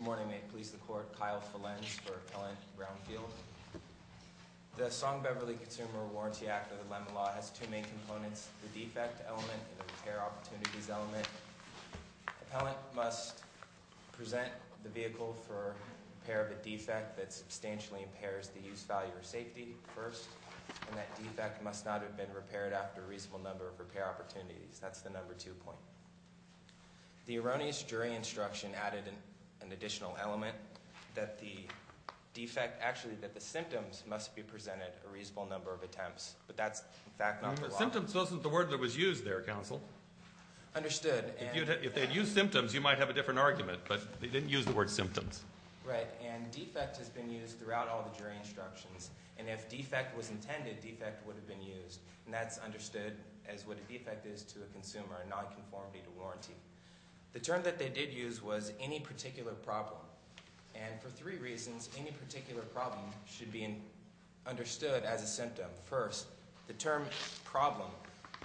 Morning, may it please the court, Kyle Philens for Appellant Brownfield. The Song-Beverly Consumer Warranty Act of the Lemon Law has two main components, the defect element and the repair opportunities element. Appellant must present the vehicle for repair of a defect that substantially impairs the use value or safety first, and that defect must not have been repaired after a reasonable number of repair opportunities. That's the number two point. The erroneous jury instruction added an additional element that the defect, actually that the symptoms, must be presented a reasonable number of attempts, but that's in fact not the law. Symptoms wasn't the word that was used there, counsel. Understood. If they had used symptoms, you might have a different argument, but they didn't use the word symptoms. Right, and defect has been used throughout all the jury instructions, and if defect was intended, defect would have been used, and that's understood as what a defect is to a consumer, a non-conformity to warranty. The term that they did use was any particular problem, and for three reasons, any particular problem should be understood as a symptom. First, the term problem.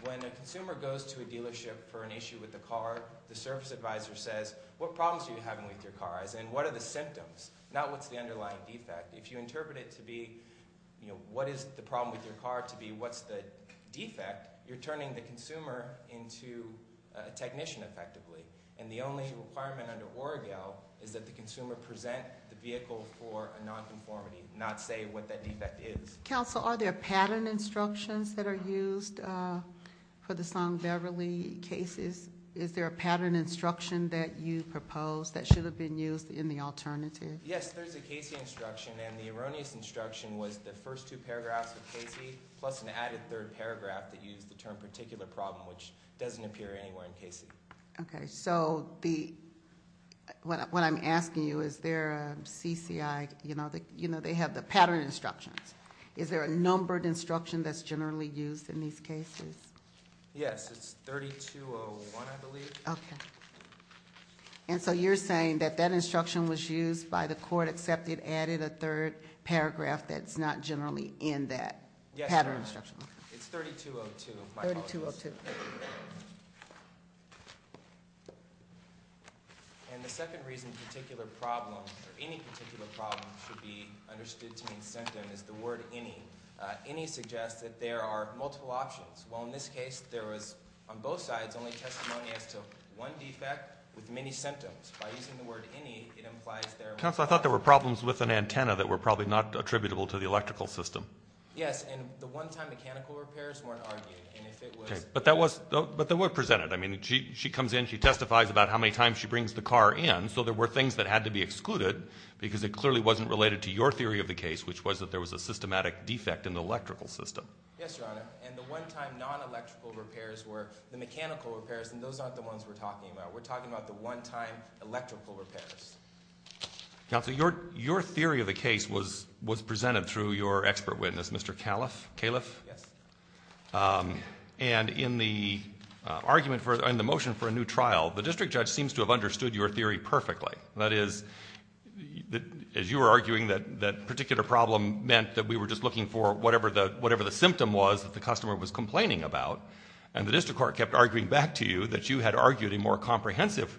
When a consumer goes to a dealership for an issue with the car, the service advisor says, what problems are you having with your car, as in what are the symptoms, not what's the underlying defect. If you interpret it to be, you know, what is the problem with your car, to be what's the defect, you're turning the consumer into a technician effectively, and the only requirement under Oregel is that the consumer present the vehicle for a non-conformity, not say what that defect is. Counsel, are there pattern instructions that are used for the Song-Beverly cases? Is there a pattern instruction that you propose that should have been used in the alternative? Yes, there's a Casey instruction, and the erroneous instruction was the first two paragraphs of Casey, plus an added third paragraph that used the term particular problem, which doesn't appear anywhere in Casey. Okay, so the, what I'm asking you, is there a CCI, you know, you know, they have the pattern instructions. Is there a numbered instruction that's generally used in these cases? Yes, it's 3201, I believe. Okay, and so you're saying that that instruction was used by the court, except it added a third paragraph that's not generally in that pattern instruction? Yes, it's 3202. 3202. And the second reason particular problem, or any particular problem, should be understood to mean symptom is the word any. Any suggests that there are multiple options. Well, in this case, there was, on both sides, only testimony as to one defect with many symptoms. By using the word any, it implies there... Counsel, I thought there were problems with an antenna that were probably not attributable to the electrical system. Yes, and the one-time mechanical repairs weren't argued, and if it was... Okay, but that was, but they were presented. I mean, she comes in, she testifies about how many times she brings the car in, so there were things that had to be excluded, because it clearly wasn't related to your theory of the case, which was that there was a systematic defect in the electrical system. Yes, Your Honor, and the one-time non-electrical repairs were the mechanical repairs, and those aren't the ones we're talking about. We're talking about the one-time electrical repairs. Counsel, your theory of the case was presented through your expert witness, Mr. Califf, and in the argument for, in the motion for a new trial, the district judge seems to have understood your theory perfectly. That is, as you were arguing that particular problem meant that we were just looking for whatever the symptom was that the customer was complaining about, and the district court kept arguing back to you that you had argued a more comprehensive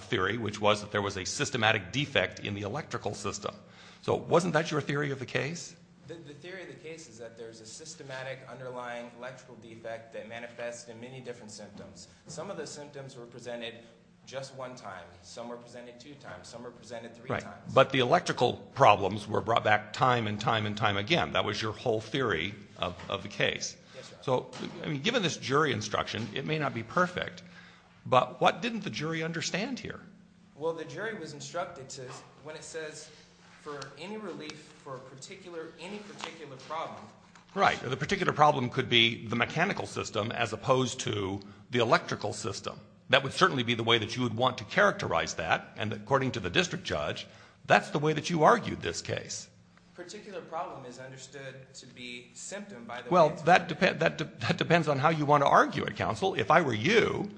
theory, which was that there was a systematic defect in the electrical system. So wasn't that your theory of the case? The theory of the case is that there's a systematic underlying electrical defect that manifests in many different symptoms. Some of the symptoms were presented just one time. Some were presented two times. Some were presented three times. But the electrical problems were brought back time and time and time again. That was your whole theory of the case. So, I mean, given this jury instruction, it may not be perfect, but what didn't the jury understand here? Well, the jury was instructed to, when it says, for any relief for a particular, any particular problem. Right. The particular problem could be the mechanical system as opposed to the electrical system. That would certainly be the way that you would want to characterize that, and according to the district judge, that's the way that you argued this case. Particular problem is understood to be symptom, by the way. Well, that depends on how you want to argue it, counsel. If I were you,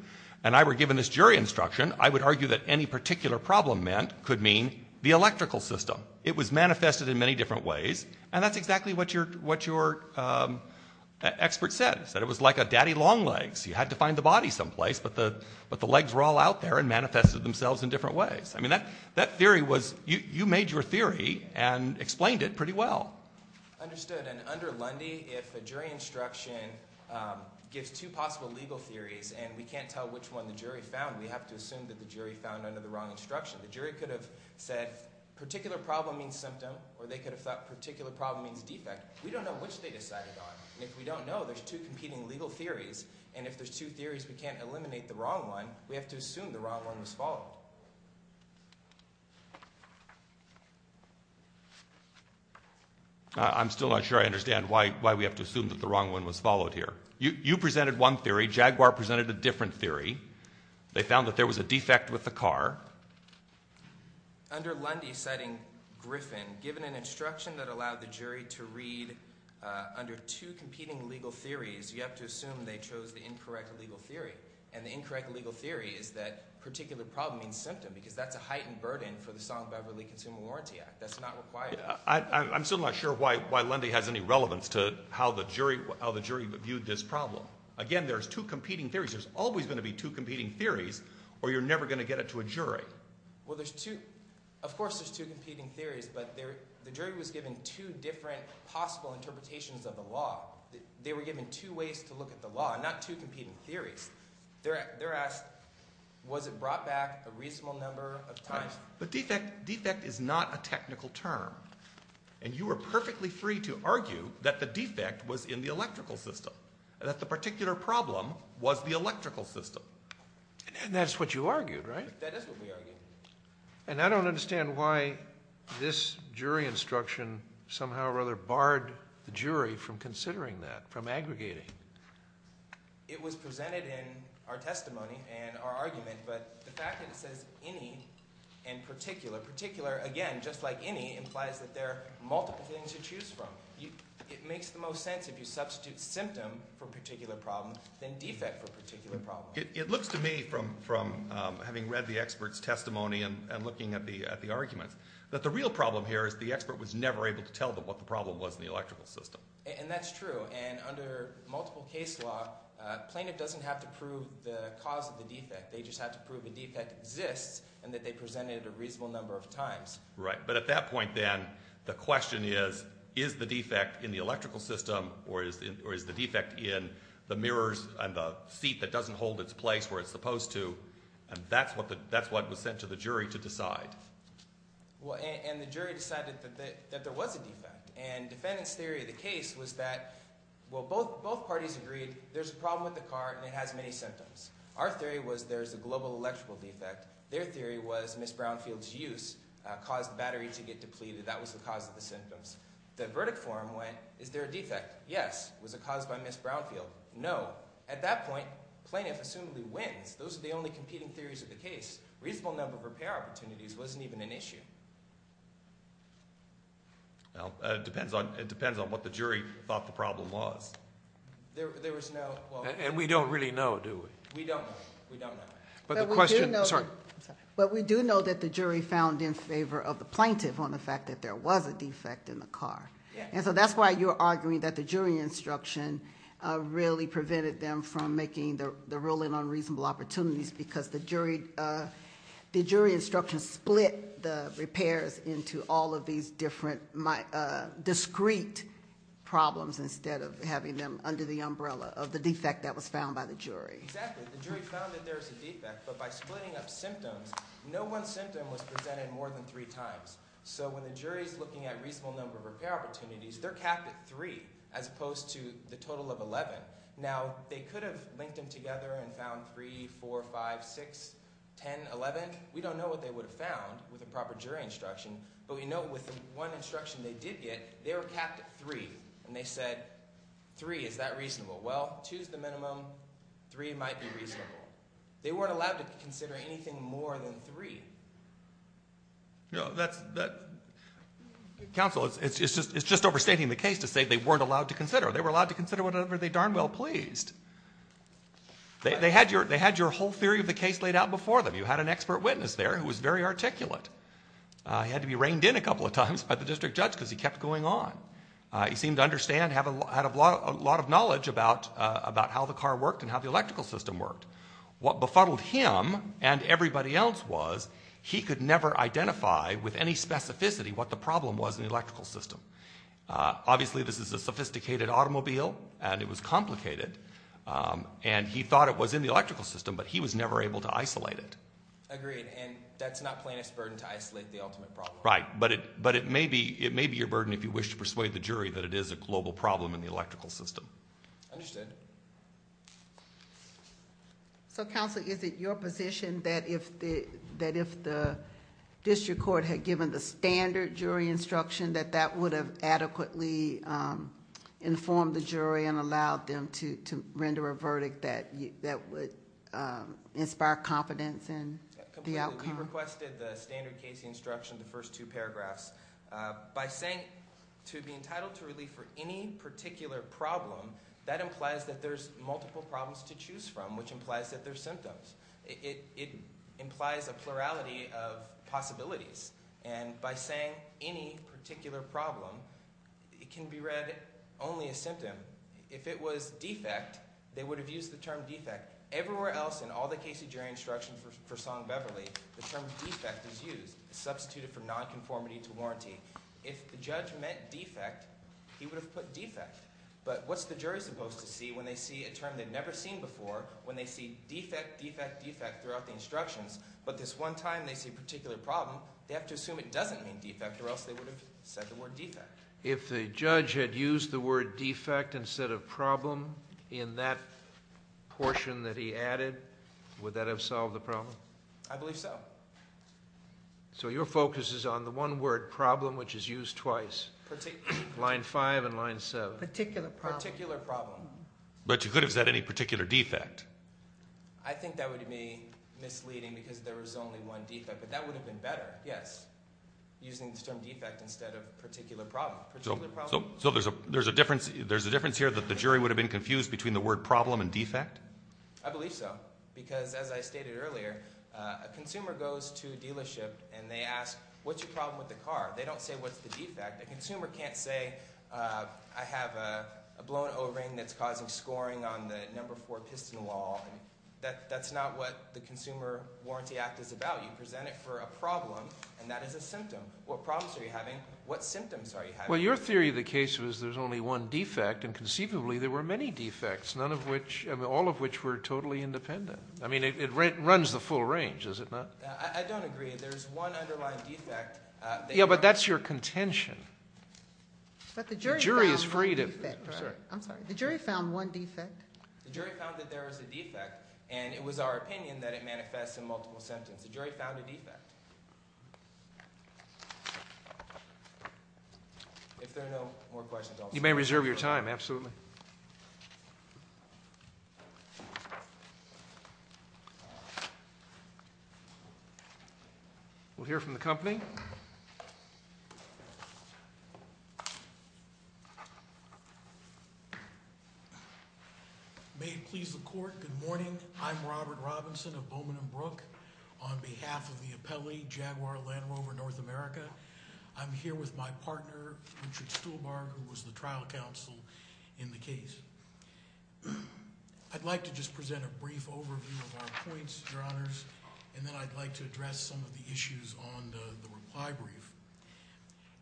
and I were given this jury instruction, I would argue that any particular problem meant could mean the electrical system. It was manifested in many different ways, and that's exactly what your, what your expert said. Said it was like a daddy long legs. You had to find the body someplace, but the, but the legs were all out there and manifested themselves in different ways. I mean, that, that theory was, you made your theory and explained it pretty well. Understood, and under Lundy, if a jury instruction gives two possible legal theories, and we can't tell which one the jury found, we have to assume that the jury found under the wrong instruction. The jury could have said particular problem means symptom, or they could have thought particular problem means defect. We don't know which they decided on, and if we don't know, there's two competing legal theories, and if there's two theories, we can't eliminate the wrong one. We have to assume the wrong one was followed. I'm still not sure I understand why, why we have to assume that the wrong one was followed here. You, you presented one theory. Jaguar presented a different theory. They found that there was a defect with the car. Under Lundy, citing Griffin, given an instruction that allowed the jury to read under two competing legal theories, you have to assume they chose the incorrect legal theory, and the incorrect legal theory is that particular problem means symptom, or they chose the wrong one. Because that's a heightened burden for the Song-Beverly Consumer Warranty Act. That's not required. I, I'm still not sure why, why Lundy has any relevance to how the jury, how the jury viewed this problem. Again, there's two competing theories. There's always going to be two competing theories, or you're never going to get it to a jury. Well, there's two, of course, there's two competing theories, but there, the jury was given two different possible interpretations of the law. They were given two ways to look at the law, not two competing theories. They're, they're asked, was it brought back a reasonable number of times? But defect, defect is not a technical term, and you are perfectly free to argue that the defect was in the electrical system, that the particular problem was the electrical system. And that's what you argued, right? That is what we argued. And I don't understand why this jury instruction somehow or other barred the jury from considering that, from aggregating. It was presented in our testimony and our argument, but the fact that it says any and particular, particular, again, just like any, implies that there are multiple things to choose from. It makes the most sense if you substitute symptom for particular problem, then defect for particular problem. It, it looks to me from, from, um, having read the expert's testimony and, and looking at the, at the arguments, that the real problem here is the expert was never able to tell them what the problem was in the electrical system. And that's true, and under most of the case law, plaintiff doesn't have to prove the cause of the defect. They just have to prove the defect exists, and that they presented it a reasonable number of times. Right, but at that point then, the question is, is the defect in the electrical system, or is, or is the defect in the mirrors and the seat that doesn't hold its place where it's supposed to? And that's what the, that's what was sent to the jury to decide. Well, and the jury decided that, that there was a defect, and defendant's case was that, well, both, both parties agreed there's a problem with the car, and it has many symptoms. Our theory was there's a global electrical defect. Their theory was Ms. Brownfield's use caused the battery to get depleted. That was the cause of the symptoms. The verdict forum went, is there a defect? Yes. Was it caused by Ms. Brownfield? No. At that point, plaintiff assumedly wins. Those are the only competing theories of the case. Reasonable number of repair opportunities wasn't even an issue. Well, it depends on, it depends on what the jury thought the problem was. There, there was no... And we don't really know, do we? We don't, we don't know. But the question... Sorry. But we do know that the jury found in favor of the plaintiff on the fact that there was a defect in the car. And so that's why you're arguing that the jury instruction really prevented them from making the, the ruling on reasonable opportunities because the jury, the jury instruction split the repairs into all of these different, discrete problems instead of having them under the umbrella of the defect that was found by the jury. Exactly. The jury found that there's a defect, but by splitting up symptoms, no one symptom was presented more than three times. So when the jury's looking at reasonable number of repair opportunities, they're capped at three as opposed to the total of eleven. Now, they could have linked them together and found three, four, five, six, ten, eleven. We don't know what they would have found with a proper jury instruction. But we know with the one instruction they did get, they were capped at three. And they said, three, is that reasonable? Well, two's the minimum, three might be reasonable. They weren't allowed to consider anything more than three. No, that's, that... Counsel, it's just, it's just overstating the case to say they weren't allowed to consider. They were allowed to consider whatever they darn well pleased. They, they had your, they had your whole theory of the case laid out before them. You had an expert witness there who was very articulate. He had to be reined in a couple of times by the district judge because he kept going on. He seemed to understand, have a lot, had a lot of knowledge about, about how the car worked and how the electrical system worked. What befuddled him and everybody else was, he could never identify with any specificity what the problem was in the electrical system. Obviously, this is a sophisticated automobile and it was complicated and he thought it was in the electrical system, but he was never able to isolate it. Agreed, and that's not plaintiff's burden to isolate the ultimate problem. Right, but it, but it may be, it may be your burden if you wish to persuade the jury that it is a global problem in the electrical system. Understood. So, Counsel, is it your position that if the, that if the district court had given the standard jury instruction that that would have adequately informed the jury and allowed them to, render a verdict that, that would inspire confidence in the outcome? We requested the standard case instruction, the first two paragraphs. By saying to be entitled to relief for any particular problem, that implies that there's multiple problems to choose from, which implies that there's symptoms. It, it implies a plurality of possibilities and by saying any particular problem, it can be read only a symptom. If it was defect, they would have used the term defect. Everywhere else in all the case of jury instructions for, for Song-Beverly, the term defect is used, substituted for non-conformity to warranty. If the judge meant defect, he would have put defect, but what's the jury supposed to see when they see a term they've never seen before, when they see defect, defect, defect throughout the instructions, but this one time they see a particular problem, they have to assume it doesn't mean defect or else they would have said the If the judge had used the word defect instead of problem in that portion that he added, would that have solved the problem? I believe so. So your focus is on the one word, problem, which is used twice. Line five and line seven. Particular problem. Particular problem. But you could have said any particular defect. I think that would be misleading because there was only one defect, but that would have been better. Yes. Using the term defect instead of particular problem. Particular problem. So, so there's a, there's a difference, there's a difference here that the jury would have been confused between the word problem and defect? I believe so, because as I stated earlier, a consumer goes to a dealership and they ask, what's your problem with the car? They don't say what's the defect. A consumer can't say, uh, I have a blown o-ring that's causing scoring on the number four piston wall. That, that's not what the Consumer Warranty Act is about. You present it for a problem, and that is a symptom. What problems are you having? What symptoms are you having? Well, your theory of the case was there's only one defect, and conceivably there were many defects, none of which, I mean, all of which were totally independent. I mean, it runs the full range, does it not? I don't agree. There's one underlying defect. Yeah, but that's your contention. But the jury is free to... I'm sorry, the jury found one defect. The jury found that there was a defect, and it was our opinion that it was an F.S. in multiple sentence. The jury found a defect. If there are no more questions... You may reserve your time, absolutely. We'll hear from the company. May it please the Court, good morning. I'm Robert Robinson of Bowman & Brook. On behalf of the appellee, Jaguar Land Rover North America, I'm here with my partner, Richard Stuhlbarg, who was the trial counsel in the case. I'd like to just present a brief overview of our points, Your Honors, and then I'd like to address some of the issues on the reply brief.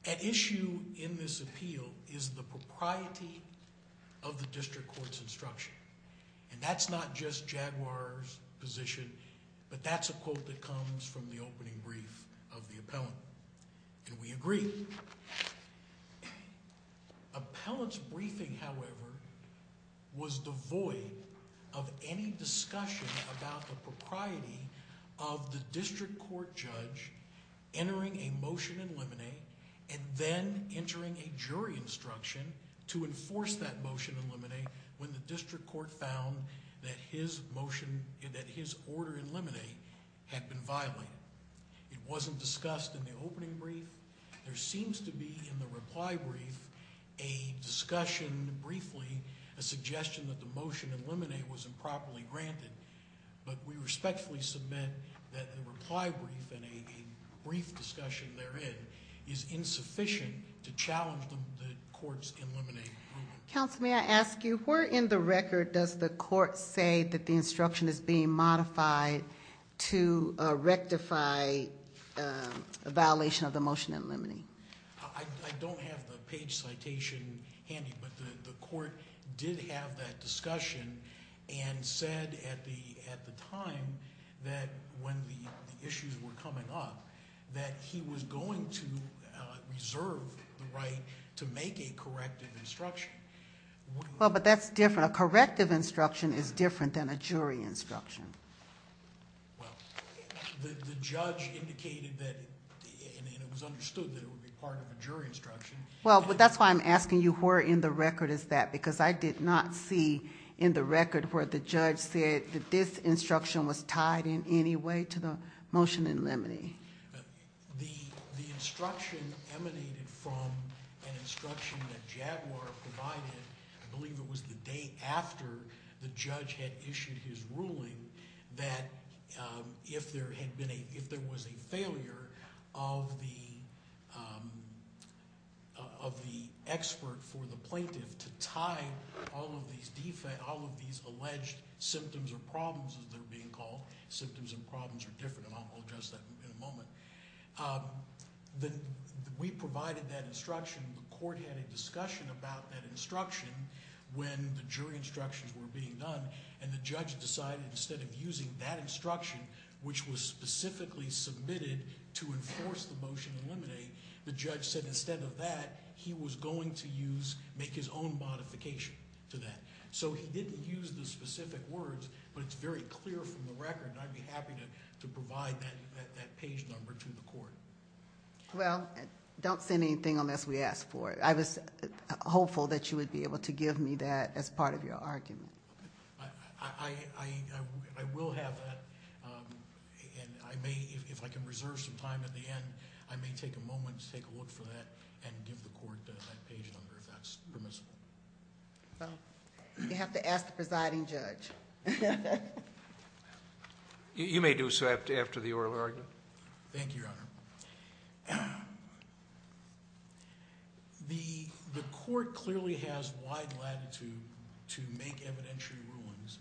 At issue in this appeal is the propriety of the district court's instruction, and that's not just Jaguar's position, but that's a quote that comes from the opening brief of the appellant, and we agree. Appellant's briefing, however, was devoid of any discussion about the entering a motion in limine, and then entering a jury instruction to enforce that motion in limine when the district court found that his order in limine had been violated. It wasn't discussed in the opening brief. There seems to be in the reply brief a discussion, briefly, a suggestion that the motion in limine was improperly granted, but we respectfully submit that the brief discussion therein is insufficient to challenge the court's in limine. Counsel, may I ask you, where in the record does the court say that the instruction is being modified to rectify a violation of the motion in limine? I don't have the page citation handy, but the court did have that discussion and said at the time that when the issues were coming up that he was going to reserve the right to make a corrective instruction. Well, but that's different. A corrective instruction is different than a jury instruction. Well, the judge indicated that and it was understood that it would be part of a jury instruction. Well, but that's why I'm asking you where in the record is that, because I did not see in the record where the judge said that this motion in limine. The instruction emanated from an instruction that Jaguar provided, I believe it was the day after the judge had issued his ruling, that if there had been a, if there was a failure of the of the expert for the plaintiff to tie all of these, all of these alleged symptoms or problems as they're being called, symptoms and problems are different, and I'll address that in a moment. We provided that instruction. The court had a discussion about that instruction when the jury instructions were being done and the judge decided instead of using that instruction, which was specifically submitted to enforce the motion in limine, the judge said instead of that he was going to use, make his own modification to that. So he didn't use the specific words, but it's very clear from the record and I'd be happy to provide that page number to the court. Well, don't send anything unless we ask for it. I was hopeful that you would be able to give me that as part of your argument. I will have that and I may, if I can reserve some time at the end, I may take a moment to take a look for that and give the court that page number if that's permissible. Well, you have to ask the presiding judge. You may do so after the oral argument. Thank you, Your Honor. The court clearly has wide latitude to make evidentiary rulings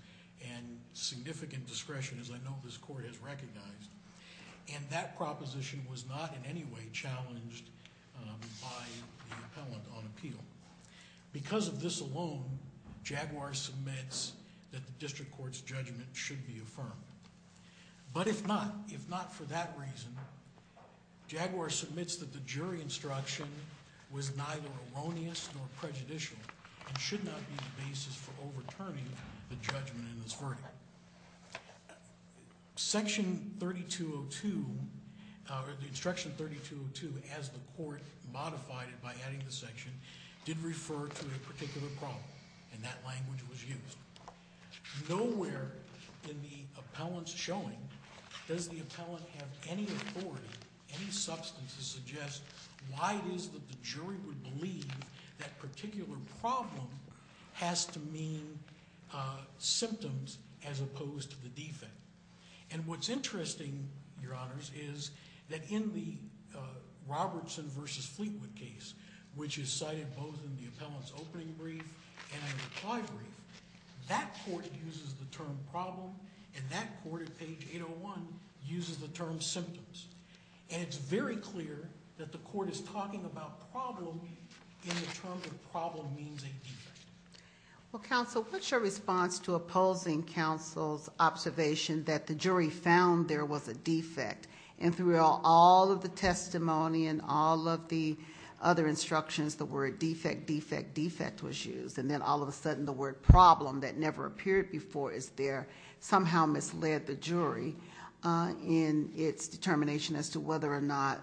and significant discretion, as I know this court has recognized, and that proposition was not in any way challenged by the appellant on appeal. Because of this alone, Jaguar submits that the district court's judgment should be affirmed. But if not, if not for that reason, Jaguar submits that the jury instruction was neither erroneous nor prejudicial and should not be the basis for overturning the judgment in this verdict. Section 3202, or the instruction 3202, as the court modified it by adding the section, did refer to a particular problem and that language was used. Nowhere in the appellant's showing does the appellant have any authority, any substance to suggest why it is that the jury would believe that particular problem has to mean symptoms as opposed to the defendant. And what's interesting, Your Honors, is that in the Robertson versus Fleetwood case, which is cited both in the appellant's opening brief and in the reply brief, that court uses the term problem and that court at page 801 uses the term symptoms. And it's very clear that the court is talking about problem in the terms of problem means a defect. Well, counsel, what's your response to opposing counsel's observation that the jury found there was a defect and throughout all of the testimony and all of the other instructions the word defect, defect, defect was used and then all of a sudden the word problem that never appeared before is there somehow misled the jury in its determination as to whether or not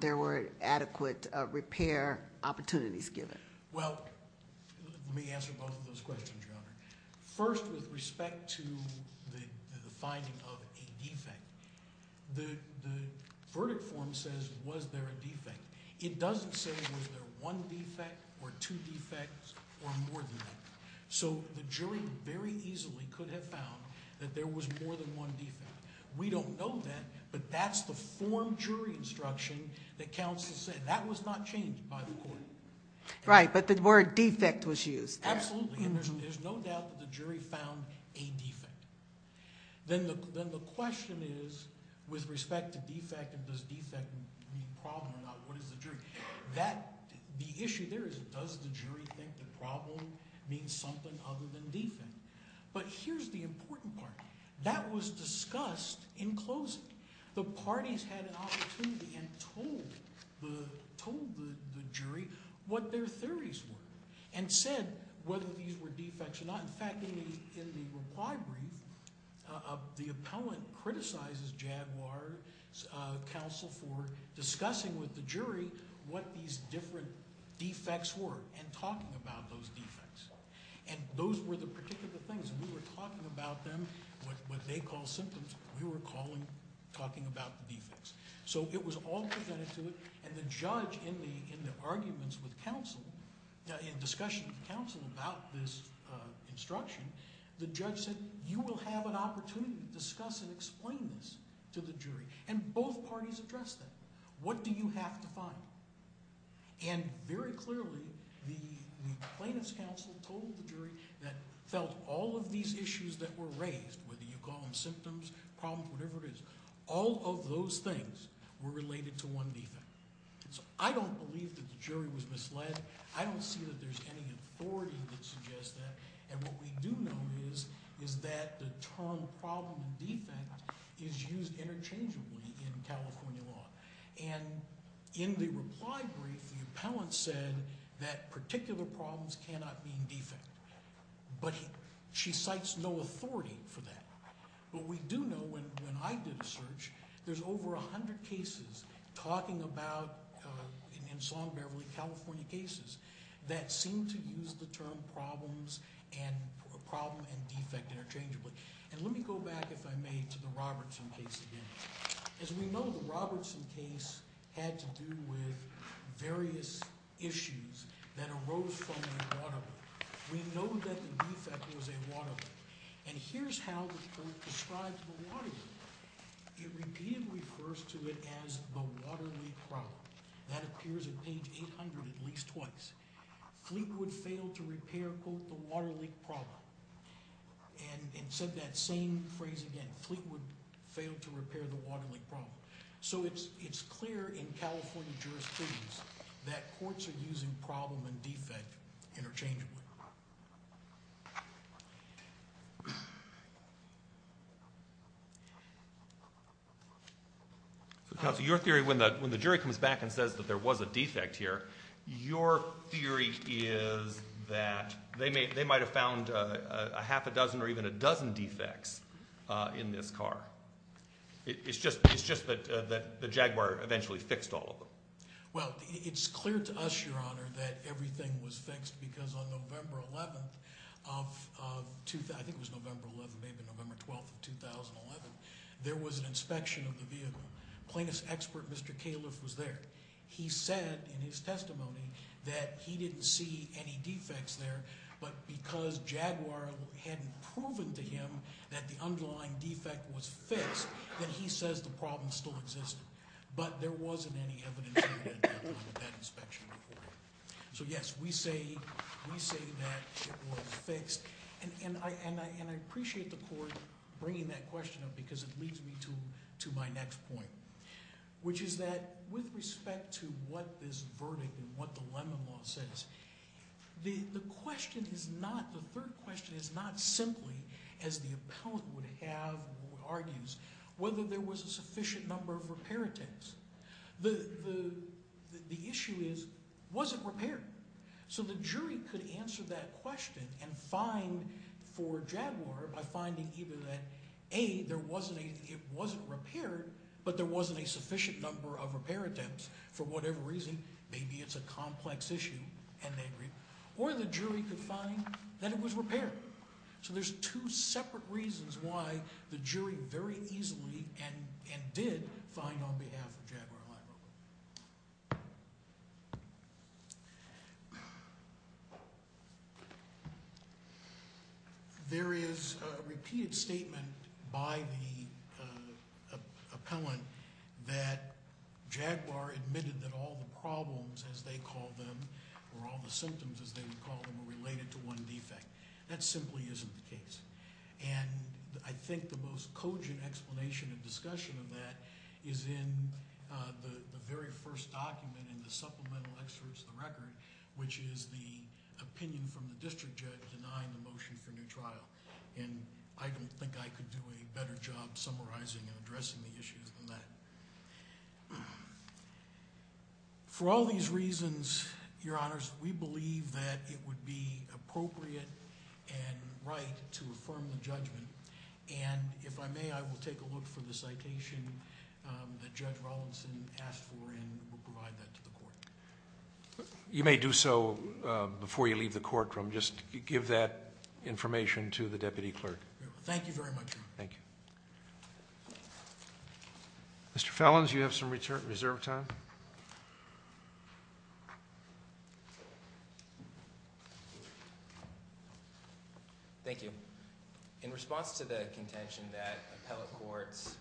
there were adequate repair opportunities given? Well, let me answer both of those questions, Your Honor. First, with respect to the finding of a defect, the verdict form says was there a defect. It doesn't say was there one defect or two defects or more than that. So the jury very easily could have found that there was more than one defect. We don't know that, but that's the form jury instruction that counsel said. That was not changed by the court. Right, but the word defect was used. Absolutely, and there's no doubt that the jury found a defect. Then the question is with respect to defect and does defect mean problem or not, what is the jury? The issue there is does the jury think the problem means something other than defect? But here's the important part. That was discussed in closing. The parties had an opportunity and told the jury what their theories were and said whether these were defects or not. In fact, in the reply brief, the appellant criticizes Jaguar's counsel for discussing with the jury what these different defects were and talking about those defects. And those were the particular things we were talking about them, what they call symptoms, we were talking about the defects. So it was all presented to it and the judge in the arguments with counsel, in discussion with counsel about this instruction, the judge said you will have an opportunity to discuss and explain this to the jury. And both parties addressed that. What do you have to find? And very clearly the plaintiff's counsel told the jury that felt all of these issues that were raised, whether you call them symptoms, problems, whatever it is, all of those things were related to one defect. So I don't believe that the jury was misled. I don't see that there's any authority that suggests that. And what we do know is is that the term problem and defect is used interchangeably in California law. And in the reply brief, the appellant said that particular problems cannot mean defect. But she cites no authority for that. But we do know when when I did a search there's over a hundred cases talking about in Song Beverly, California cases that seem to use the term problems and a problem and defect interchangeably. And let me go back if I may to the Robertson case again. As we know the Robertson case had to do with issues that arose from the water leak. We know that the defect was a water leak. And here's how the court describes the water leak. It repeatedly refers to it as the water leak problem. That appears at page 800 at least twice. Fleetwood failed to repair the water leak problem. And said that same phrase again. Fleetwood failed to repair the water leak problem. So it's it's clear in California jurisprudence that courts are using problem and defect interchangeably. So counsel your theory when the when the jury comes back and says that there was a defect here, your theory is that they may they might have found a half a dozen or even a dozen defects in this car. It's just it's just that that the Jaguar eventually fixed all of them. Well it's clear to us your honor that everything was fixed because on November 11th of 2000 I think it was November 11 maybe November 12th of 2011 there was an inspection of the vehicle. Plaintiff's expert Mr. Califf was there. He said in his testimony that he didn't see any defects there but because Jaguar hadn't proven to him that the underlying defect was fixed then he says the problem still existed. But there wasn't any evidence of that inspection. So yes we say we say that it was fixed and I and I and I appreciate the court bringing that question up because it leads me to to my next point which is that with respect to what this verdict and what the lemon law says the the question is not the third appellate would have argues whether there was a sufficient number of repair attempts. The the the issue is was it repaired? So the jury could answer that question and find for Jaguar by finding either that a there wasn't a it wasn't repaired but there wasn't a sufficient number of repair attempts for whatever reason maybe it's a complex issue and they or the jury could find that it was repaired. So there's two separate reasons why the jury very easily and and did find on behalf of Jaguar High Road. There is a repeated statement by the uh appellant that Jaguar admitted that all the problems as they call them or all the symptoms as they would call them were related to one defect. That simply isn't the case and I think the most cogent explanation and discussion of that is in the the very first document in the supplemental excerpts of the record which is the opinion from the district judge denying the motion for new trial and I don't think I could do a better job summarizing and addressing the issues than that. For all these reasons your honors we believe that it would be appropriate and right to affirm the judgment and if I may I will take a look for the citation that Judge Rollinson asked for and will provide that to the court. You may do so before you leave the courtroom just give that information to the deputy clerk. Thank you very much. Thank you. Mr. Fellons you have some return reserve time. Thank you. In response to the contention that appellate courts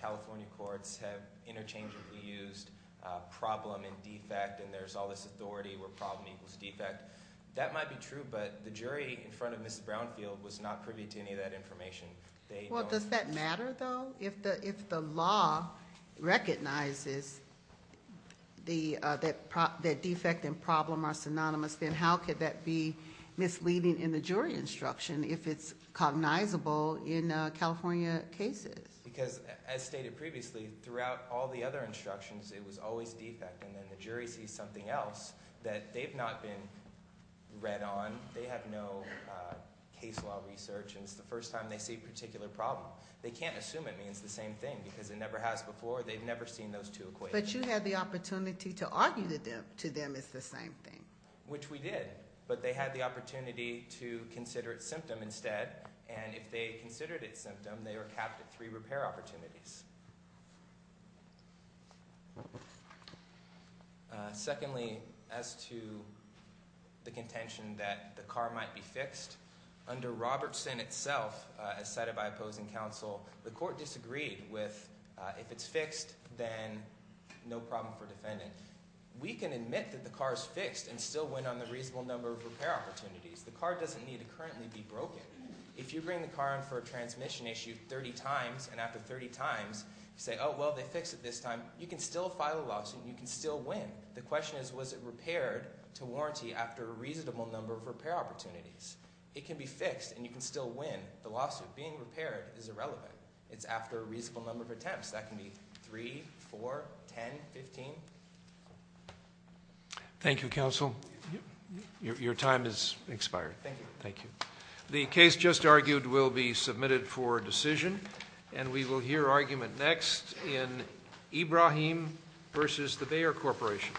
California courts have interchangeably used a problem and defect and there's all this authority where problem equals defect that might be true but the jury in front of Mrs. Brownfield was not privy to any of that information. Well does that matter though if the if the law recognizes that defect and problem are synonymous then how could that be misleading in the jury instruction if it's cognizable in California cases? Because as stated previously throughout all the other instructions it was always defect and then the jury sees something else that they've not been read on they have no case law research and it's the first time they see a particular problem they can't assume it means the same thing because it never has before they've never seen those two equations. But you had the opportunity to argue that to them it's the same thing. Which we did but they had the opportunity to consider its symptom instead and if they considered its symptom they were capped at three repair opportunities. Secondly as to the contention that the car might be fixed under Robertson itself as cited by opposing counsel the court disagreed with if it's fixed then no problem for defendant. We can admit that the car is fixed and still went on the reasonable number of repair opportunities the car doesn't need to currently be broken. If you bring the car in for a you say oh well they fixed it this time you can still file a lawsuit you can still win the question is was it repaired to warranty after a reasonable number of repair opportunities it can be fixed and you can still win the lawsuit being repaired is irrelevant it's after a reasonable number of attempts that can be 3, 4, 10, 15. Thank you counsel your time has expired thank you thank you the case just argued will be submitted for decision and we will hear argument next in Ibrahim versus the Bayer corporation.